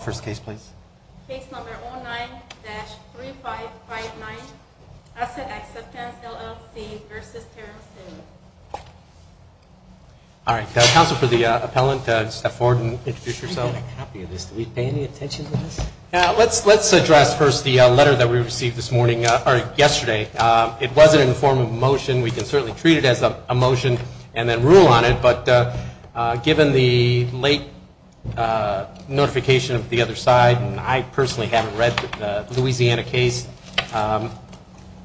First case, please. Case number 09-3559, Asset Acceptance, LLC v. Terrell All right. Counsel for the appellant, step forward and introduce yourself. Let's address first the letter that we received this morning, or yesterday. It wasn't in the form of a motion. We can certainly treat it as a motion and then rule on it, but given the late notification of the other side, and I personally haven't read the Louisiana case,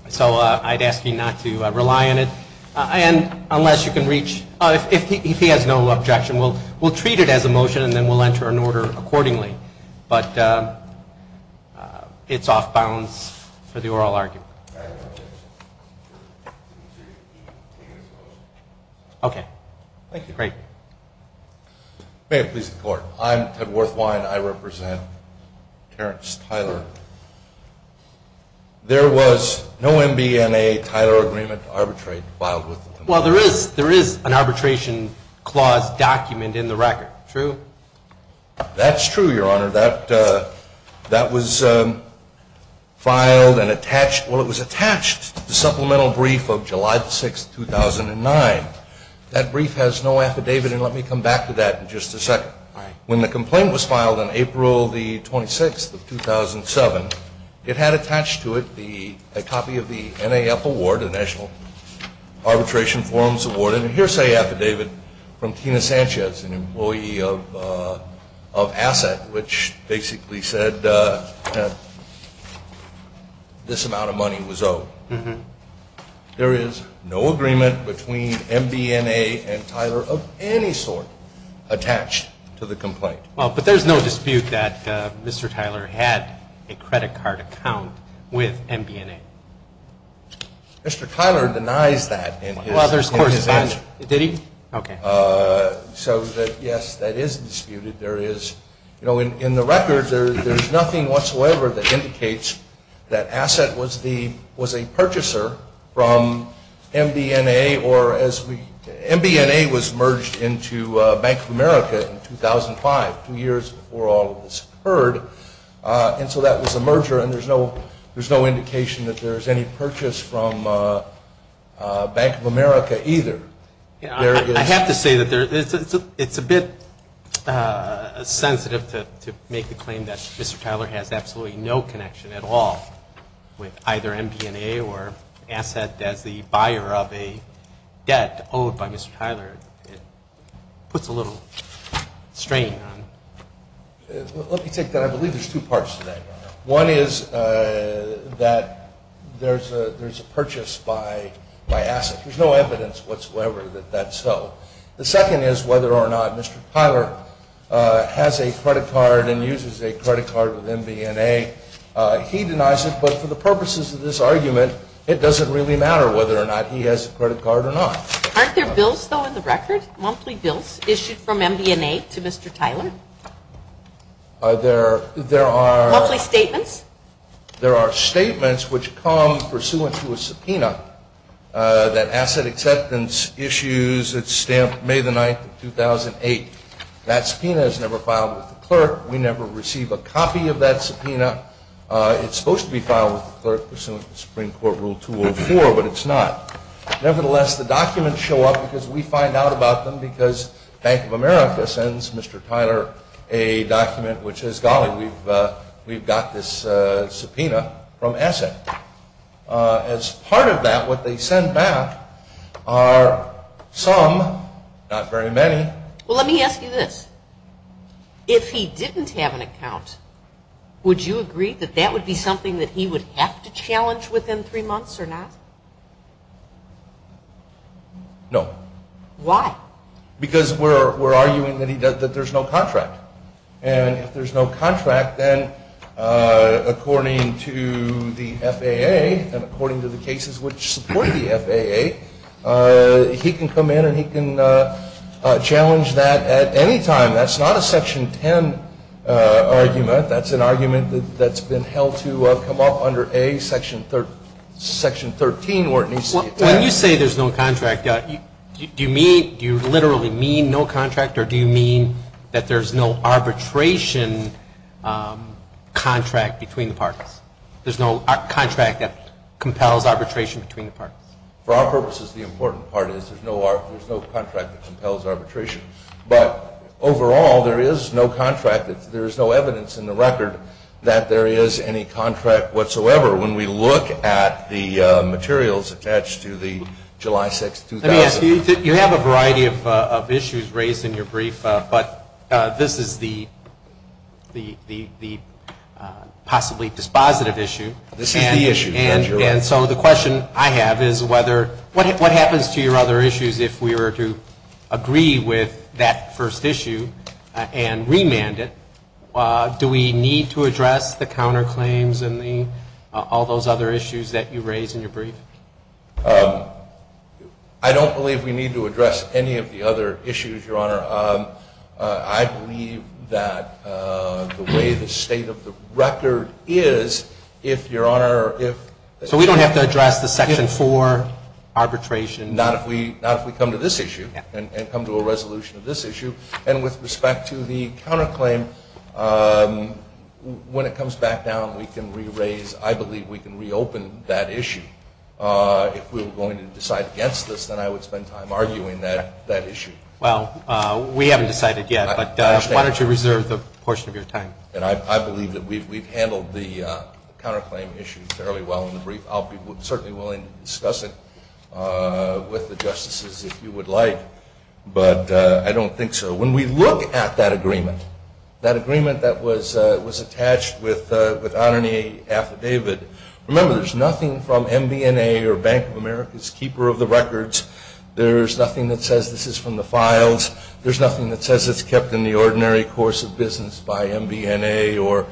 so I'd ask you not to rely on it. And unless you can reach, if he has no objection, we'll treat it as a motion and then we'll enter an order accordingly. But it's off-balance for the oral argument. Okay. Thank you. Great. May it please the Court. I'm Ted Worthwine. I represent Terrence Tyler. There was no MBNA-Tyler agreement to arbitrate filed with the record. True? That's true, Your Honor. That was filed and attached, well, it was attached to the supplemental brief of July 6, 2009. That brief has no affidavit, and let me come back to that in just a second. When the complaint was filed on April 26, 2007, it had attached to it a copy of the NAF Award, the National Arbitration Forums Award, and a hearsay affidavit from Tina Sanchez, an employee of ASSET, which basically said this amount of money was owed. There is no agreement between MBNA and Tyler of any sort attached to the complaint. Well, but there's no dispute that Mr. Tyler had a credit card account with MBNA. Mr. Tyler denies that in his speech. Did he? Okay. So, yes, that is disputed. There is, you know, in the record, there's nothing whatsoever that indicates that ASSET was the, was a purchaser from MBNA or as we, MBNA was merged into Bank of America in 2005, two years before all of this occurred, and so that was a merger, and there's no, there's no indication that there's any purchase from Bank of America either. I have to say that there, it's a bit sensitive to make the claim that Mr. Tyler has absolutely no connection at all with either MBNA or ASSET as the buyer of a debt owed by Mr. Tyler. It puts a little strain on. Let me take that. I believe there's two parts to that. One is that there's a purchase by ASSET. There's no evidence whatsoever that that's so. The second is whether or not Mr. Tyler has a credit card and uses a credit card with MBNA. He denies it, but for the purposes of this argument, it doesn't really matter whether or not he has a credit card or not. Aren't there bills, though, in the record, monthly bills issued from MBNA to Mr. Tyler? There are. Monthly statements? There are statements which come pursuant to a subpoena that ASSET acceptance issues. It's stamped May the 9th of 2008. That subpoena is never filed with the clerk. We never receive a copy of that subpoena. It's supposed to be filed with the clerk pursuant to Supreme Court Rule 204, but it's not. Nevertheless, the documents show up because we find out about them because Bank of America sends Mr. Tyler a document which says, golly, we've got this subpoena from ASSET. As part of that, what they send back are some, not very many… Well, let me ask you this. If he didn't have an account, would you agree that that would be something that he would have to challenge within three months or not? No. Why? Because we're arguing that there's no contract. And if there's no contract, then according to the FAA and according to the cases which support the FAA, he can come in and he can challenge that at any time. That's not a Section 10 argument. That's an argument that's been held to come up under Section 13. When you say there's no contract, do you literally mean no contract, or do you mean that there's no arbitration contract between the parties? There's no contract that compels arbitration between the parties? For our purposes, the important part is there's no contract that compels arbitration. But overall, there is no contract. There is no evidence in the record that there is any contract whatsoever. When we look at the materials attached to the July 6, 2000… Let me ask you, you have a variety of issues raised in your brief, but this is the possibly dispositive issue. This is the issue. And so the question I have is what happens to your other issues if we were to agree with that first issue and remand it? Do we need to address the counterclaims and all those other issues that you raise in your brief? I don't believe we need to address any of the other issues, Your Honor. I believe that the way the state of the record is, if Your Honor, if… So we don't have to address the Section 4 arbitration? Not if we come to this issue and come to a resolution of this issue. And with respect to the counterclaim, when it comes back down, we can re-raise, I believe we can re-open that issue. If we were going to decide against this, then I would spend time arguing that issue. Well, we haven't decided yet, but why don't you reserve the portion of your time? I believe that we've handled the counterclaim issue fairly well in the brief. I'll be certainly willing to discuss it with the Justices if you would like, but I don't think so. When we look at that agreement, that agreement that was attached with Anani Affidavit, remember there's nothing from MBNA or Bank of America's Keeper of the Records. There's nothing that says this is from the files. There's nothing that says it's kept in the ordinary course of business by MBNA or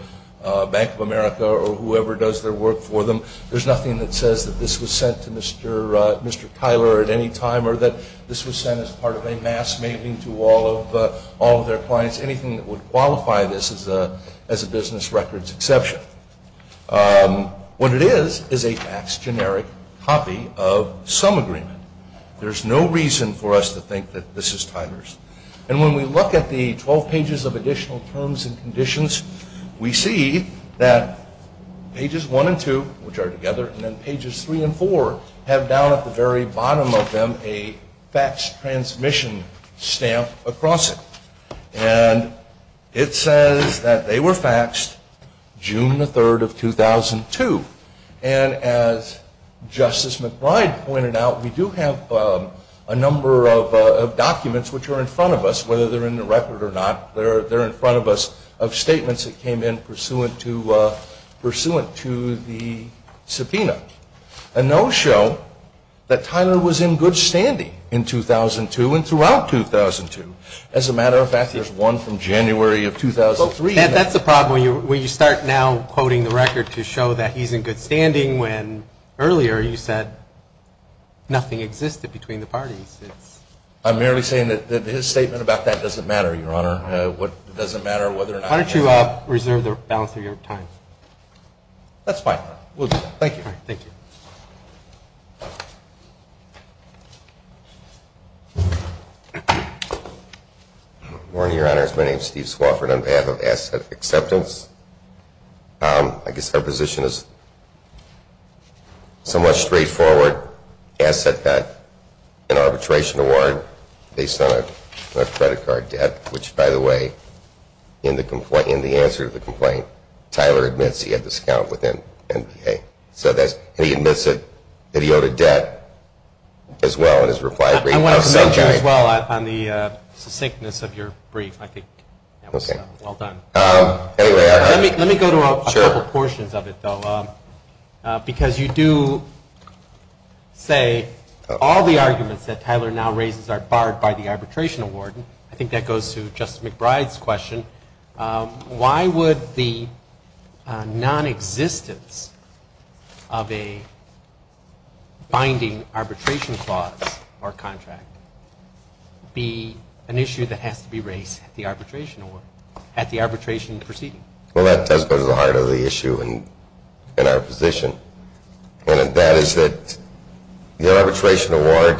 Bank of America or whoever does their work for them. There's nothing that says that this was sent to Mr. Tyler at any time or that this was sent as part of a mass mailing to all of their clients, anything that would qualify this as a business records exception. What it is is a faxed generic copy of some agreement. There's no reason for us to think that this is Tyler's. And when we look at the 12 pages of additional terms and conditions, we see that pages one and two, which are together, and then pages three and four have down at the very bottom of them a faxed transmission stamp across it. And it says that they were faxed June the 3rd of 2002. And as Justice McBride pointed out, we do have a number of documents which are in front of us, whether they're in the record or not, they're in front of us, of statements that came in pursuant to the subpoena. And those show that Tyler was in good standing in 2002 and throughout 2002 as a matter of fact, there's one from January of 2003. That's the problem when you start now quoting the record to show that he's in good standing when earlier you said nothing existed between the parties. I'm merely saying that his statement about that doesn't matter, Your Honor. It doesn't matter whether or not he was in good standing. Why don't you reserve the balance of your time? That's fine. We'll do that. Thank you. Thank you. Thank you. Good morning, Your Honors. My name is Steve Swofford on behalf of Asset Acceptance. I guess our position is somewhat straightforward. Asset got an arbitration award based on a credit card debt, which, by the way, in the answer to the complaint, Tyler admits he had a discount with NPA. And he admits that he owed a debt as well in his reply brief. I want to commend you as well on the succinctness of your brief. I think that was well done. Let me go to a couple portions of it, though, because you do say all the arguments that Tyler now raises are barred by the arbitration award. I think that goes to Justice McBride's question. Why would the nonexistence of a binding arbitration clause or contract be an issue that has to be raised at the arbitration award, at the arbitration proceeding? Well, that does go to the heart of the issue in our position. And that is that the arbitration award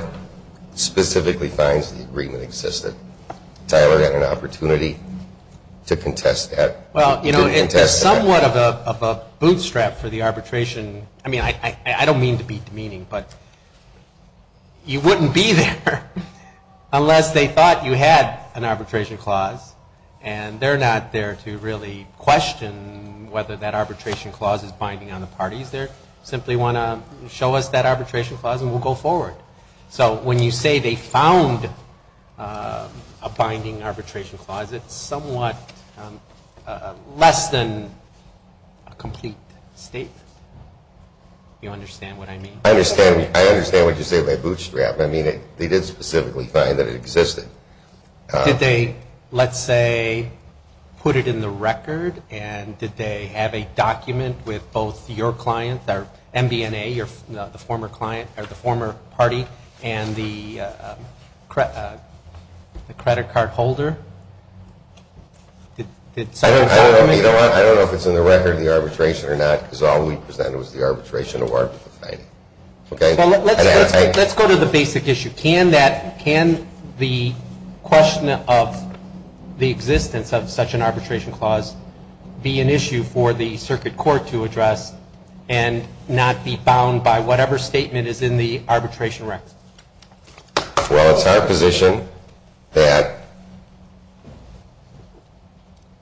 specifically finds the agreement existed. Tyler had an opportunity to contest that. Well, you know, it's somewhat of a bootstrap for the arbitration. I mean, I don't mean to be demeaning, but you wouldn't be there unless they thought you had an arbitration clause. And they're not there to really question whether that arbitration clause is binding on the parties. They simply want to show us that arbitration clause and we'll go forward. So when you say they found a binding arbitration clause, it's somewhat less than a complete statement. Do you understand what I mean? I understand what you say by bootstrap. I mean, they did specifically find that it existed. Did they, let's say, put it in the record? And did they have a document with both your client, MBNA, the former party, and the credit card holder? I don't know if it's in the record, the arbitration or not, because all we presented was the arbitration award. Let's go to the basic issue. Can the question of the existence of such an arbitration clause be an issue for the circuit court to address and not be bound by whatever statement is in the arbitration record? Well, it's our position that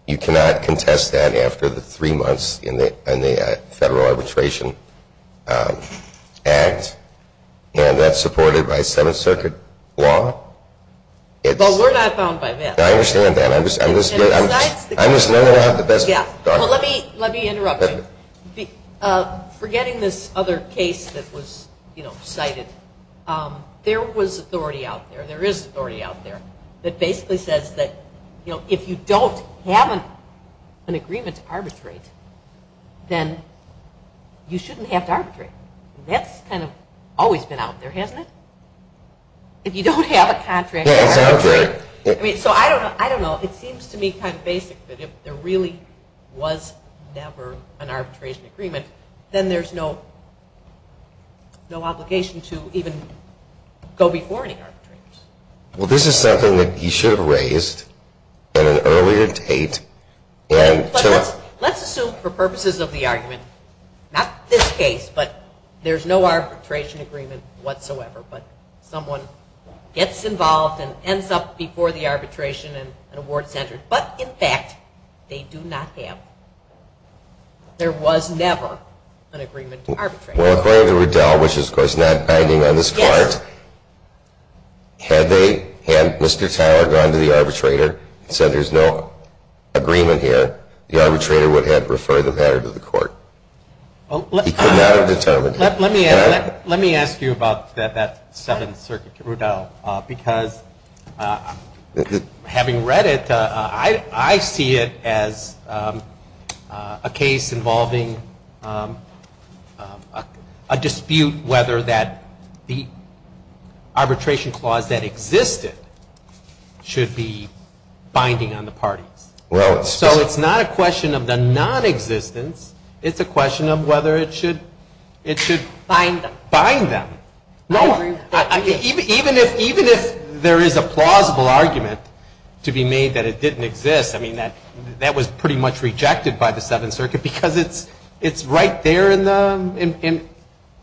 you cannot contest that after the three months in the Federal Arbitration Act. And that's supported by Seventh Circuit law. But we're not bound by that. I understand that. I'm just not going to have the best. Well, let me interrupt you. Forgetting this other case that was cited, there was authority out there, there is authority out there, that basically says that if you don't have an agreement to arbitrate, then you shouldn't have to arbitrate. That's kind of always been out there, hasn't it? If you don't have a contract to arbitrate. So I don't know. It seems to me kind of basic that if there really was never an arbitration agreement, then there's no obligation to even go before any arbitrators. Well, this is something that you should have raised at an earlier date. Let's assume for purposes of the argument, not this case, but there's no arbitration agreement whatsoever, but someone gets involved and ends up before the arbitration and an award is entered. But, in fact, they do not have. There was never an agreement to arbitrate. Well, according to Riddell, which is, of course, not binding on this part, had Mr. Tyler gone to the arbitrator and said there's no agreement here, the arbitrator would have referred the matter to the court. He could not have determined it. Let me ask you about that Seventh Circuit, Riddell, because having read it, I see it as a case involving a dispute whether the arbitration clause that existed should be binding on the parties. So it's not a question of the nonexistence. It's a question of whether it should bind them. Even if there is a plausible argument to be made that it didn't exist, that was pretty much rejected by the Seventh Circuit because it's right there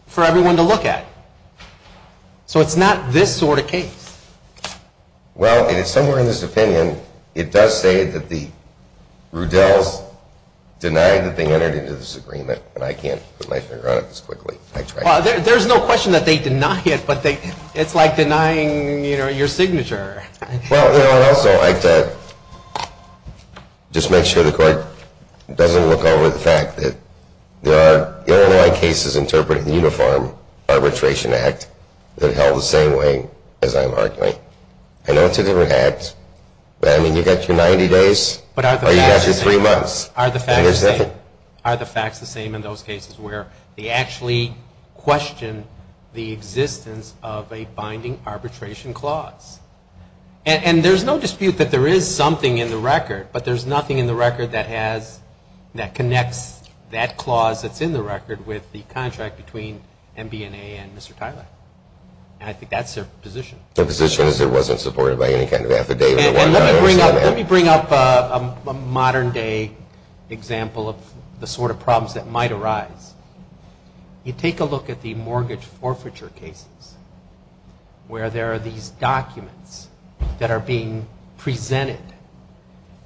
for everyone to look at. So it's not this sort of case. Well, somewhere in this opinion, it does say that the Riddells denied that they entered into this agreement, and I can't put my finger on it this quickly. There's no question that they deny it, but it's like denying your signature. Well, I'd also like to just make sure the court doesn't look over the fact that there are Illinois cases interpreted in the Uniform Arbitration Act that held the same way as I'm arguing. I know it's a different act, but I mean, you've got your 90 days or you've got your three months. Are the facts the same in those cases where they actually question the existence of a binding arbitration clause? And there's no dispute that there is something in the record, but there's nothing in the record that connects that clause that's in the record with the contract between MBNA and Mr. Tyler. And I think that's their position. Their position is it wasn't supported by any kind of affidavit. Let me bring up a modern-day example of the sort of problems that might arise. You take a look at the mortgage forfeiture cases where there are these documents that are being presented,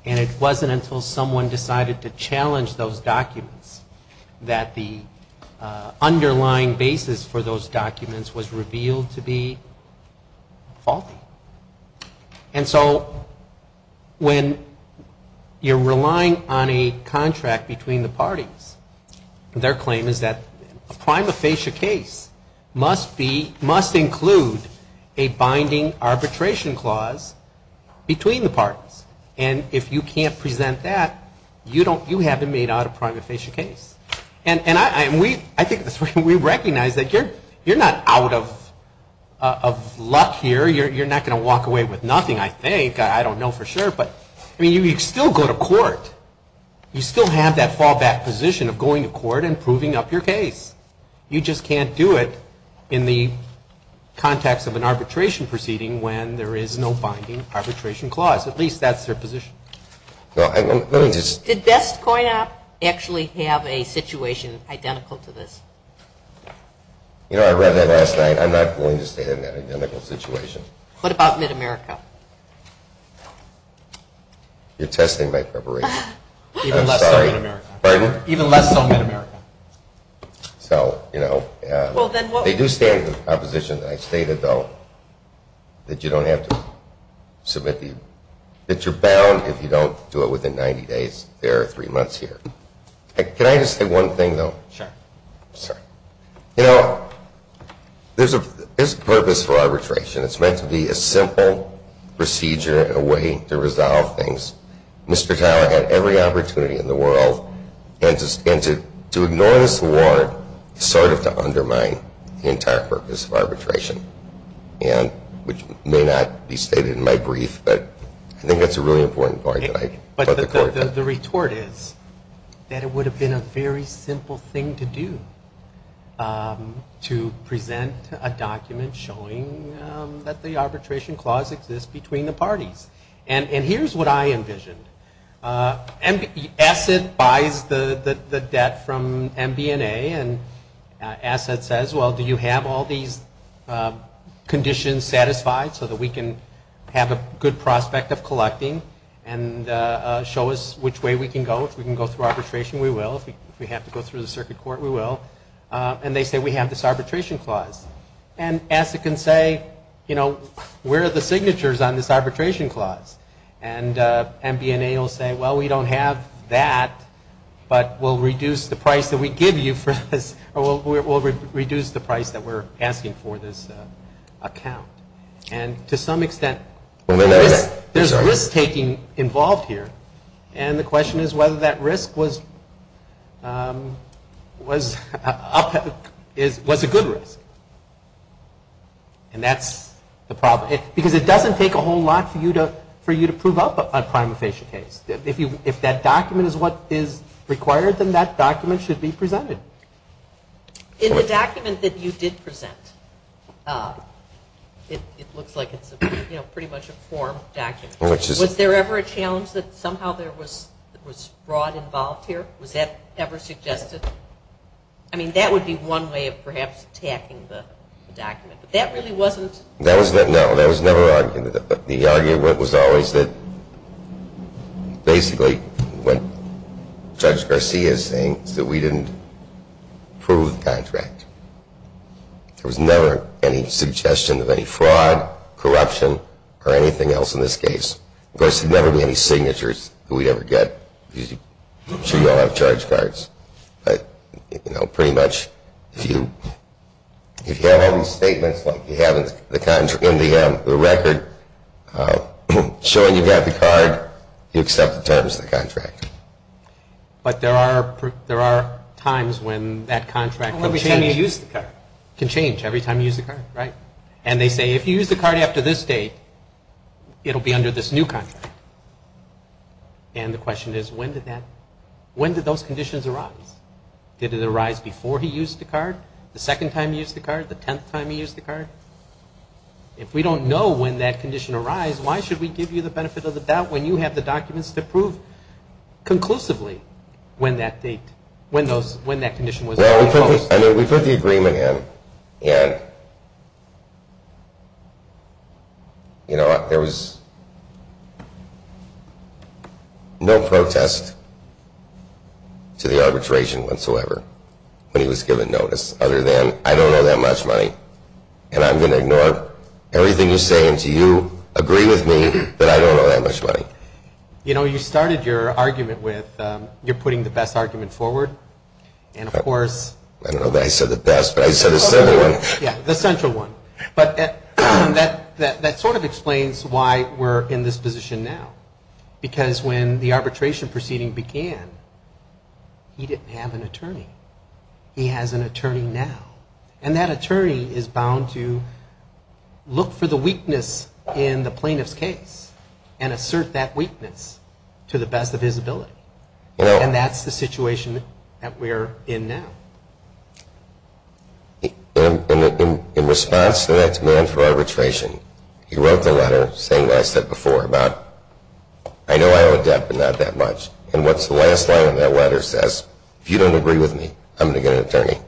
and it wasn't until someone decided to challenge those documents that the underlying basis for those documents was revealed to be faulty. And so when you're relying on a contract between the parties, their claim is that a prima facie case must include a binding arbitration clause between the parties. And if you can't present that, you haven't made out a prima facie case. And I think we recognize that you're not out of luck here. You're not going to walk away with nothing, I think. I don't know for sure. But, I mean, you could still go to court. You still have that fallback position of going to court and proving up your case. You just can't do it in the context of an arbitration proceeding when there is no binding arbitration clause. At least that's their position. Did BestCoin App actually have a situation identical to this? You know, I read that last night. I'm not going to state an identical situation. What about Mid-America? You're testing my preparation. Even less so Mid-America. Pardon? Even less so Mid-America. So, you know, they do stand in opposition. I stated, though, that you don't have to submit the – that you're bound if you don't do it within 90 days. There are three months here. Can I just say one thing, though? Sure. I'm sorry. You know, there's a purpose for arbitration. It's meant to be a simple procedure, a way to resolve things. Mr. Tyler had every opportunity in the world. And to ignore this award is sort of to undermine the entire purpose of arbitration, which may not be stated in my brief, but I think that's a really important point. Okay. But the retort is that it would have been a very simple thing to do, to present a document showing that the arbitration clause exists between the parties. And here's what I envisioned. Asset buys the debt from MBNA, and Asset says, well, do you have all these conditions satisfied so that we can have a good prospect of collecting and show us which way we can go? If we can go through arbitration, we will. If we have to go through the circuit court, we will. And they say, we have this arbitration clause. And Asset can say, you know, where are the signatures on this arbitration clause? And MBNA will say, well, we don't have that, but we'll reduce the price that we give you for this, or we'll reduce the price that we're asking for this account. And to some extent, there's risk-taking involved here. And the question is whether that risk was a good risk. And that's the problem. Because it doesn't take a whole lot for you to prove up a prima facie case. If that document is what is required, then that document should be presented. In the document that you did present, it looks like it's pretty much a form document. Was there ever a challenge that somehow there was fraud involved here? Was that ever suggested? I mean, that would be one way of perhaps attacking the document. But that really wasn't? No, that was never argued. The argument was always that basically what Judge Garcia is saying is that we didn't prove the contract. There was never any suggestion of any fraud, corruption, or anything else in this case. Of course, there would never be any signatures that we'd ever get. I'm sure you all have charge cards. But pretty much, if you have all these statements like you have in the record showing you've got the card, you accept the terms of the contract. But there are times when that contract can change every time you use the card. And they say, if you use the card after this date, it will be under this new contract. And the question is, when did those conditions arise? Did it arise before he used the card, the second time he used the card, the tenth time he used the card? If we don't know when that condition arise, why should we give you the benefit of the doubt when you have the documents to prove conclusively when that date, when that condition was proposed? We put the agreement in, and there was no protest to the arbitration whatsoever when he was given notice other than, I don't know that much money, and I'm going to ignore everything you say until you agree with me that I don't know that much money. You started your argument with, you're putting the best argument forward. And, of course... I don't know that I said the best, but I said the central one. Yeah, the central one. But that sort of explains why we're in this position now. Because when the arbitration proceeding began, he didn't have an attorney. He has an attorney now. And that attorney is bound to look for the weakness in the plaintiff's case and assert that weakness to the best of his ability. And that's the situation that we're in now. In response to that demand for arbitration, he wrote the letter saying what I said before about, I know I owe a debt, but not that much. And what's the last line of that letter says? If you don't agree with me, I'm going to get an attorney.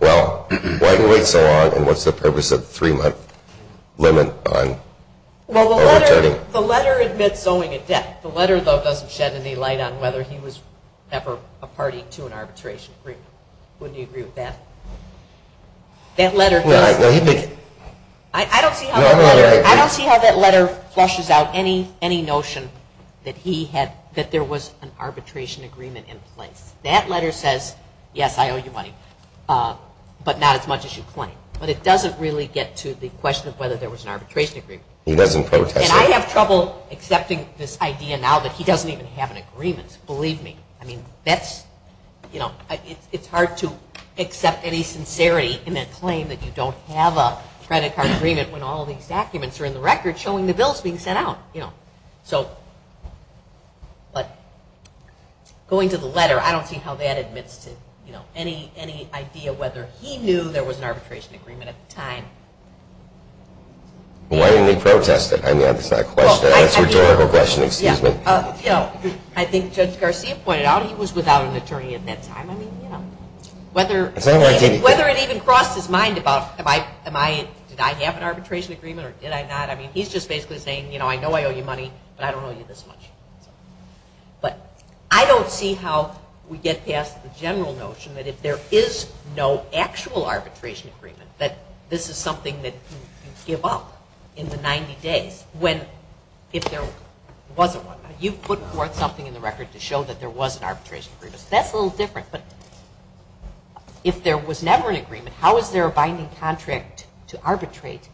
Well, why do we wait so long, and what's the purpose of the three-month limit on an attorney? Well, the letter admits owing a debt. The letter, though, doesn't shed any light on whether he was ever a party to an arbitration agreement. Wouldn't you agree with that? That letter does. I don't see how that letter flushes out any notion that there was an arbitration agreement in place. That letter says, yes, I owe you money, but not as much as you claim. But it doesn't really get to the question of whether there was an arbitration agreement. He doesn't protest it. And I have trouble accepting this idea now that he doesn't even have an agreement. Believe me. It's hard to accept any sincerity in a claim that you don't have a credit card agreement when all of these documents are in the record showing the bill is being sent out. So going to the letter, I don't see how that admits to any idea whether he knew there was an arbitration agreement at the time. Why didn't he protest it? I mean, that's not a question. That's a rhetorical question. Excuse me. I think Judge Garcia pointed out he was without an attorney at that time. I mean, whether it even crossed his mind about, did I have an arbitration agreement or did I not? I mean, he's just basically saying, I know I owe you money, but I don't owe you this much. But I don't see how we get past the general notion that if there is no actual arbitration agreement, that this is something that you give up in the 90 days if there wasn't one. You put forth something in the record to show that there was an arbitration agreement. That's a little different. But if there was never an agreement, how is there a binding contract to arbitrate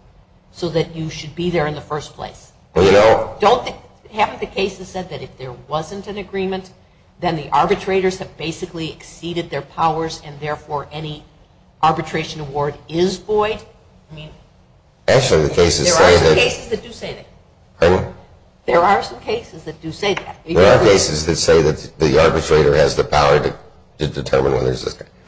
so that you should be there in the first place? Haven't the cases said that if there wasn't an agreement, then the arbitrators have basically exceeded their powers and therefore any arbitration award is void? Actually, the cases say that. There are some cases that do say that. Pardon? There are some cases that do say that. There are cases that say that the arbitrator has the power to determine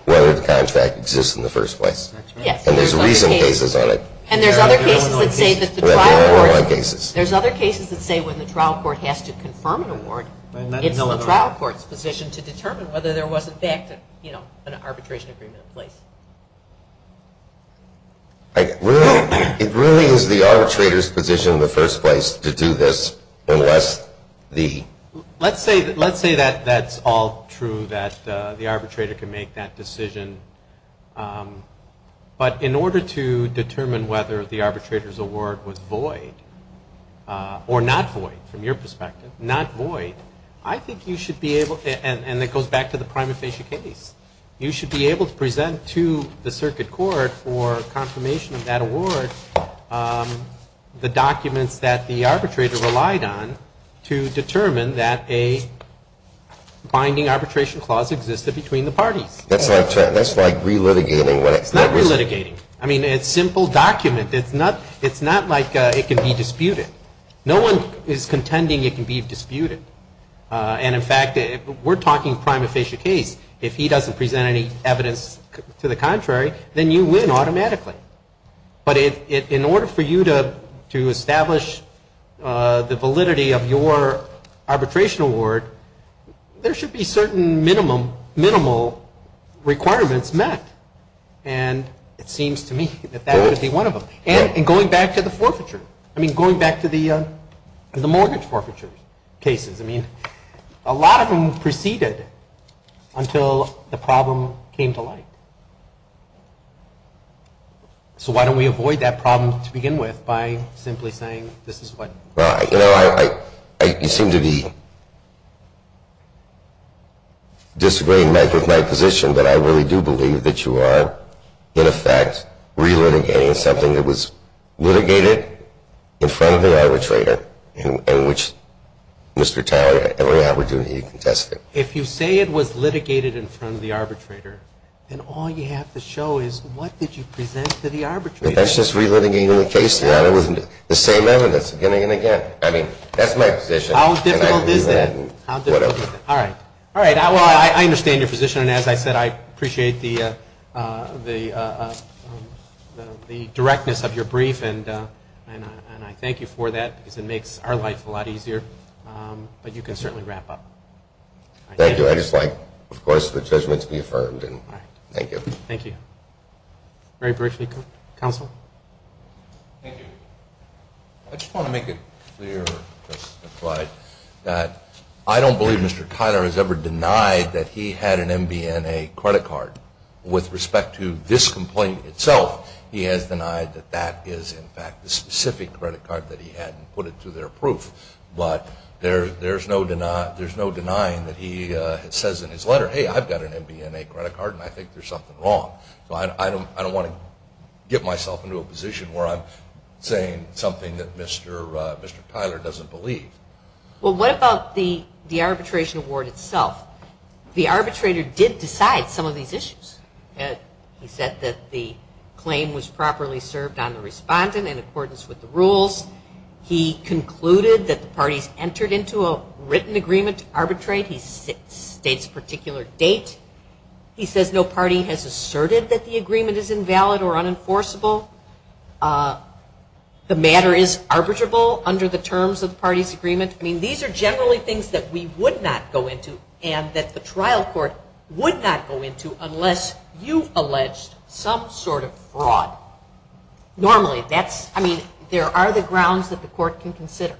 whether the contract exists in the first place. Yes. And there's recent cases on it. And there's other cases that say that the trial court has to confirm an award. It's the trial court's position to determine whether there was, in fact, an arbitration agreement in place. It really is the arbitrator's position in the first place to do this unless the ---- Let's say that that's all true, that the arbitrator can make that decision. But in order to determine whether the arbitrator's award was void or not void from your perspective, not void, I think you should be able to, and it goes back to the prima facie case, you should be able to present to the circuit court for confirmation of that award the documents that the arbitrator relied on to determine that a binding arbitration clause existed between the parties. That's like relitigating what it's ---- It's not relitigating. I mean, it's a simple document. It's not like it can be disputed. No one is contending it can be disputed. And, in fact, we're talking prima facie case. If he doesn't present any evidence to the contrary, then you win automatically. But in order for you to establish the validity of your arbitration award, there should be certain minimal requirements met. And it seems to me that that would be one of them. And going back to the forfeiture, I mean, going back to the mortgage forfeiture cases, I mean, a lot of them preceded until the problem came to light. So why don't we avoid that problem to begin with by simply saying this is what ---- You know, you seem to be disagreeing with my position, but I really do believe that you are, in effect, relitigating something that was litigated in front of the arbitrator and which Mr. Talley, every opportunity you can test it. If you say it was litigated in front of the arbitrator, then all you have to show is what did you present to the arbitrator. That's just relitigating the case. It wasn't the same evidence again and again. I mean, that's my position. How difficult is that? How difficult is that? All right. All right. Well, I understand your position. And as I said, I appreciate the directness of your brief, and I thank you for that because it makes our life a lot easier. But you can certainly wrap up. Thank you. I'd just like, of course, the judgment to be affirmed. All right. Thank you. Thank you. Very briefly. Counsel. Thank you. I just want to make it clear that I don't believe Mr. Tyler has ever denied that he had an MBNA credit card. With respect to this complaint itself, he has denied that that is, in fact, the specific credit card that he had and put it to their proof. But there's no denying that he says in his letter, hey, I've got an MBNA credit card, and I think there's something wrong. So I don't want to get myself into a position where I'm saying something that Mr. Tyler doesn't believe. Well, what about the arbitration award itself? The arbitrator did decide some of these issues. He said that the claim was properly served on the respondent in accordance with the rules. He concluded that the parties entered into a written agreement to arbitrate. He states a particular date. He says no party has asserted that the agreement is invalid or unenforceable. The matter is arbitrable under the terms of the party's agreement. I mean, these are generally things that we would not go into and that the trial court would not go into unless you allege some sort of fraud. Normally, I mean, there are the grounds that the court can consider,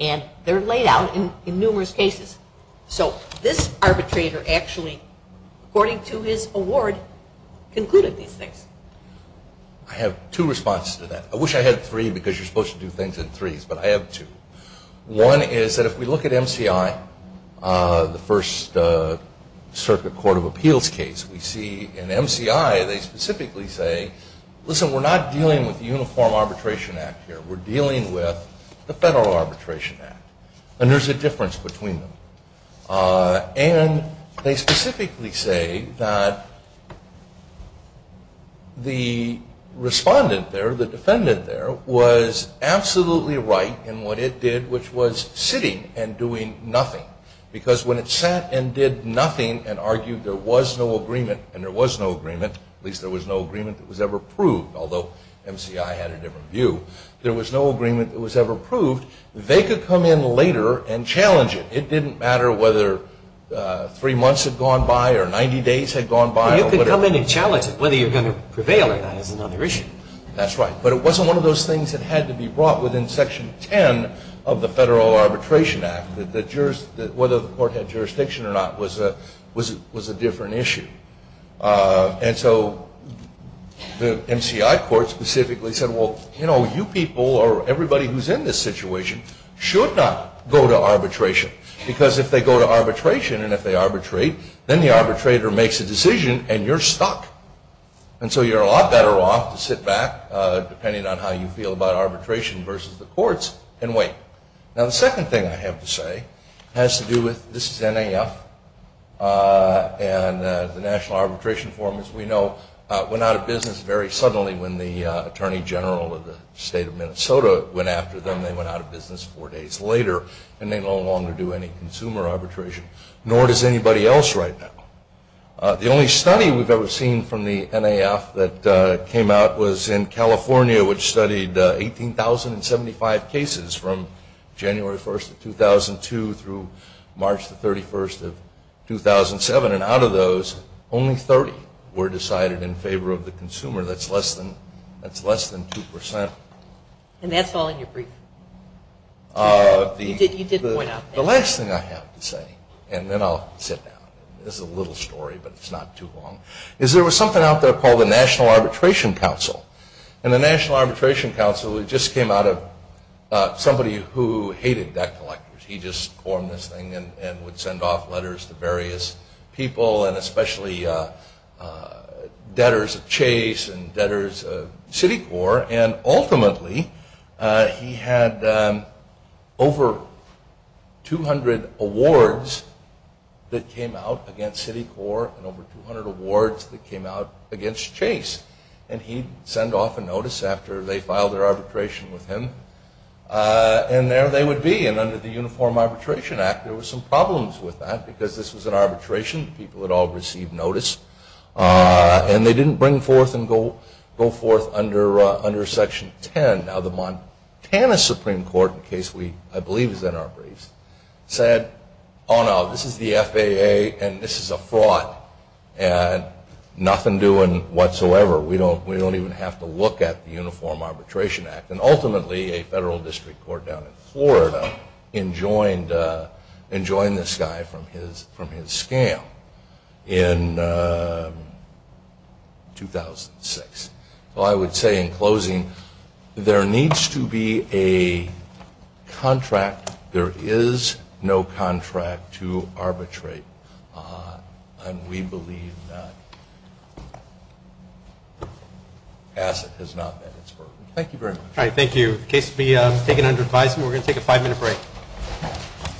and they're laid out in numerous cases. So this arbitrator actually, according to his award, concluded these things. I have two responses to that. I wish I had three because you're supposed to do things in threes, but I have two. One is that if we look at MCI, the First Circuit Court of Appeals case, we see in MCI they specifically say, listen, we're not dealing with the Uniform Arbitration Act here. We're dealing with the Federal Arbitration Act, and there's a difference between them. And they specifically say that the respondent there, the defendant there, was absolutely right in what it did, which was sitting and doing nothing, because when it sat and did nothing and argued there was no agreement, and there was no agreement, at least there was no agreement that was ever proved, although MCI had a different view. There was no agreement that was ever proved. They could come in later and challenge it. It didn't matter whether three months had gone by or 90 days had gone by. You could come in and challenge it, whether you're going to prevail or not is another issue. That's right. But it wasn't one of those things that had to be brought within Section 10 of the Federal Arbitration Act, that whether the court had jurisdiction or not was a different issue. And so the MCI court specifically said, well, you know, you people or everybody who's in this situation should not go to arbitration, because if they go to arbitration and if they arbitrate, then the arbitrator makes a decision and you're stuck. And so you're a lot better off to sit back, depending on how you feel about arbitration versus the courts, and wait. Now, the second thing I have to say has to do with this is NAF, and the National Arbitration Forum, as we know, went out of business very suddenly when the Attorney General of the State of Minnesota went after them. They went out of business four days later, and they no longer do any consumer arbitration, nor does anybody else right now. The only study we've ever seen from the NAF that came out was in California, which studied 18,075 cases from January 1st of 2002 through March the 31st of 2007, and out of those, only 30 were decided in favor of the consumer. That's less than 2%. And that's all in your brief. You did point out that. The last thing I have to say, and then I'll sit down. This is a little story, but it's not too long, is there was something out there called the National Arbitration Council, and the National Arbitration Council just came out of somebody who hated debt collectors. He just formed this thing and would send off letters to various people, and especially debtors of Chase and debtors of Citicorp, and ultimately he had over 200 awards that came out against Citicorp and over 200 awards that came out against Chase, and he'd send off a notice after they filed their arbitration with him, and there they would be. And under the Uniform Arbitration Act, there were some problems with that because this was an arbitration. People had all received notice, and they didn't bring forth and go forth under Section 10. Now, the Montana Supreme Court, the case I believe is in our briefs, said, oh, no, this is the FAA and this is a fraud, and nothing doing whatsoever. We don't even have to look at the Uniform Arbitration Act, and ultimately a federal district court down in Florida enjoined this guy from his scam in 2006. Well, I would say in closing, there needs to be a contract. There is no contract to arbitrate, and we believe that asset has not met its burden. Thank you very much. All right, thank you. The case will be taken under advisement. We're going to take a five-minute break.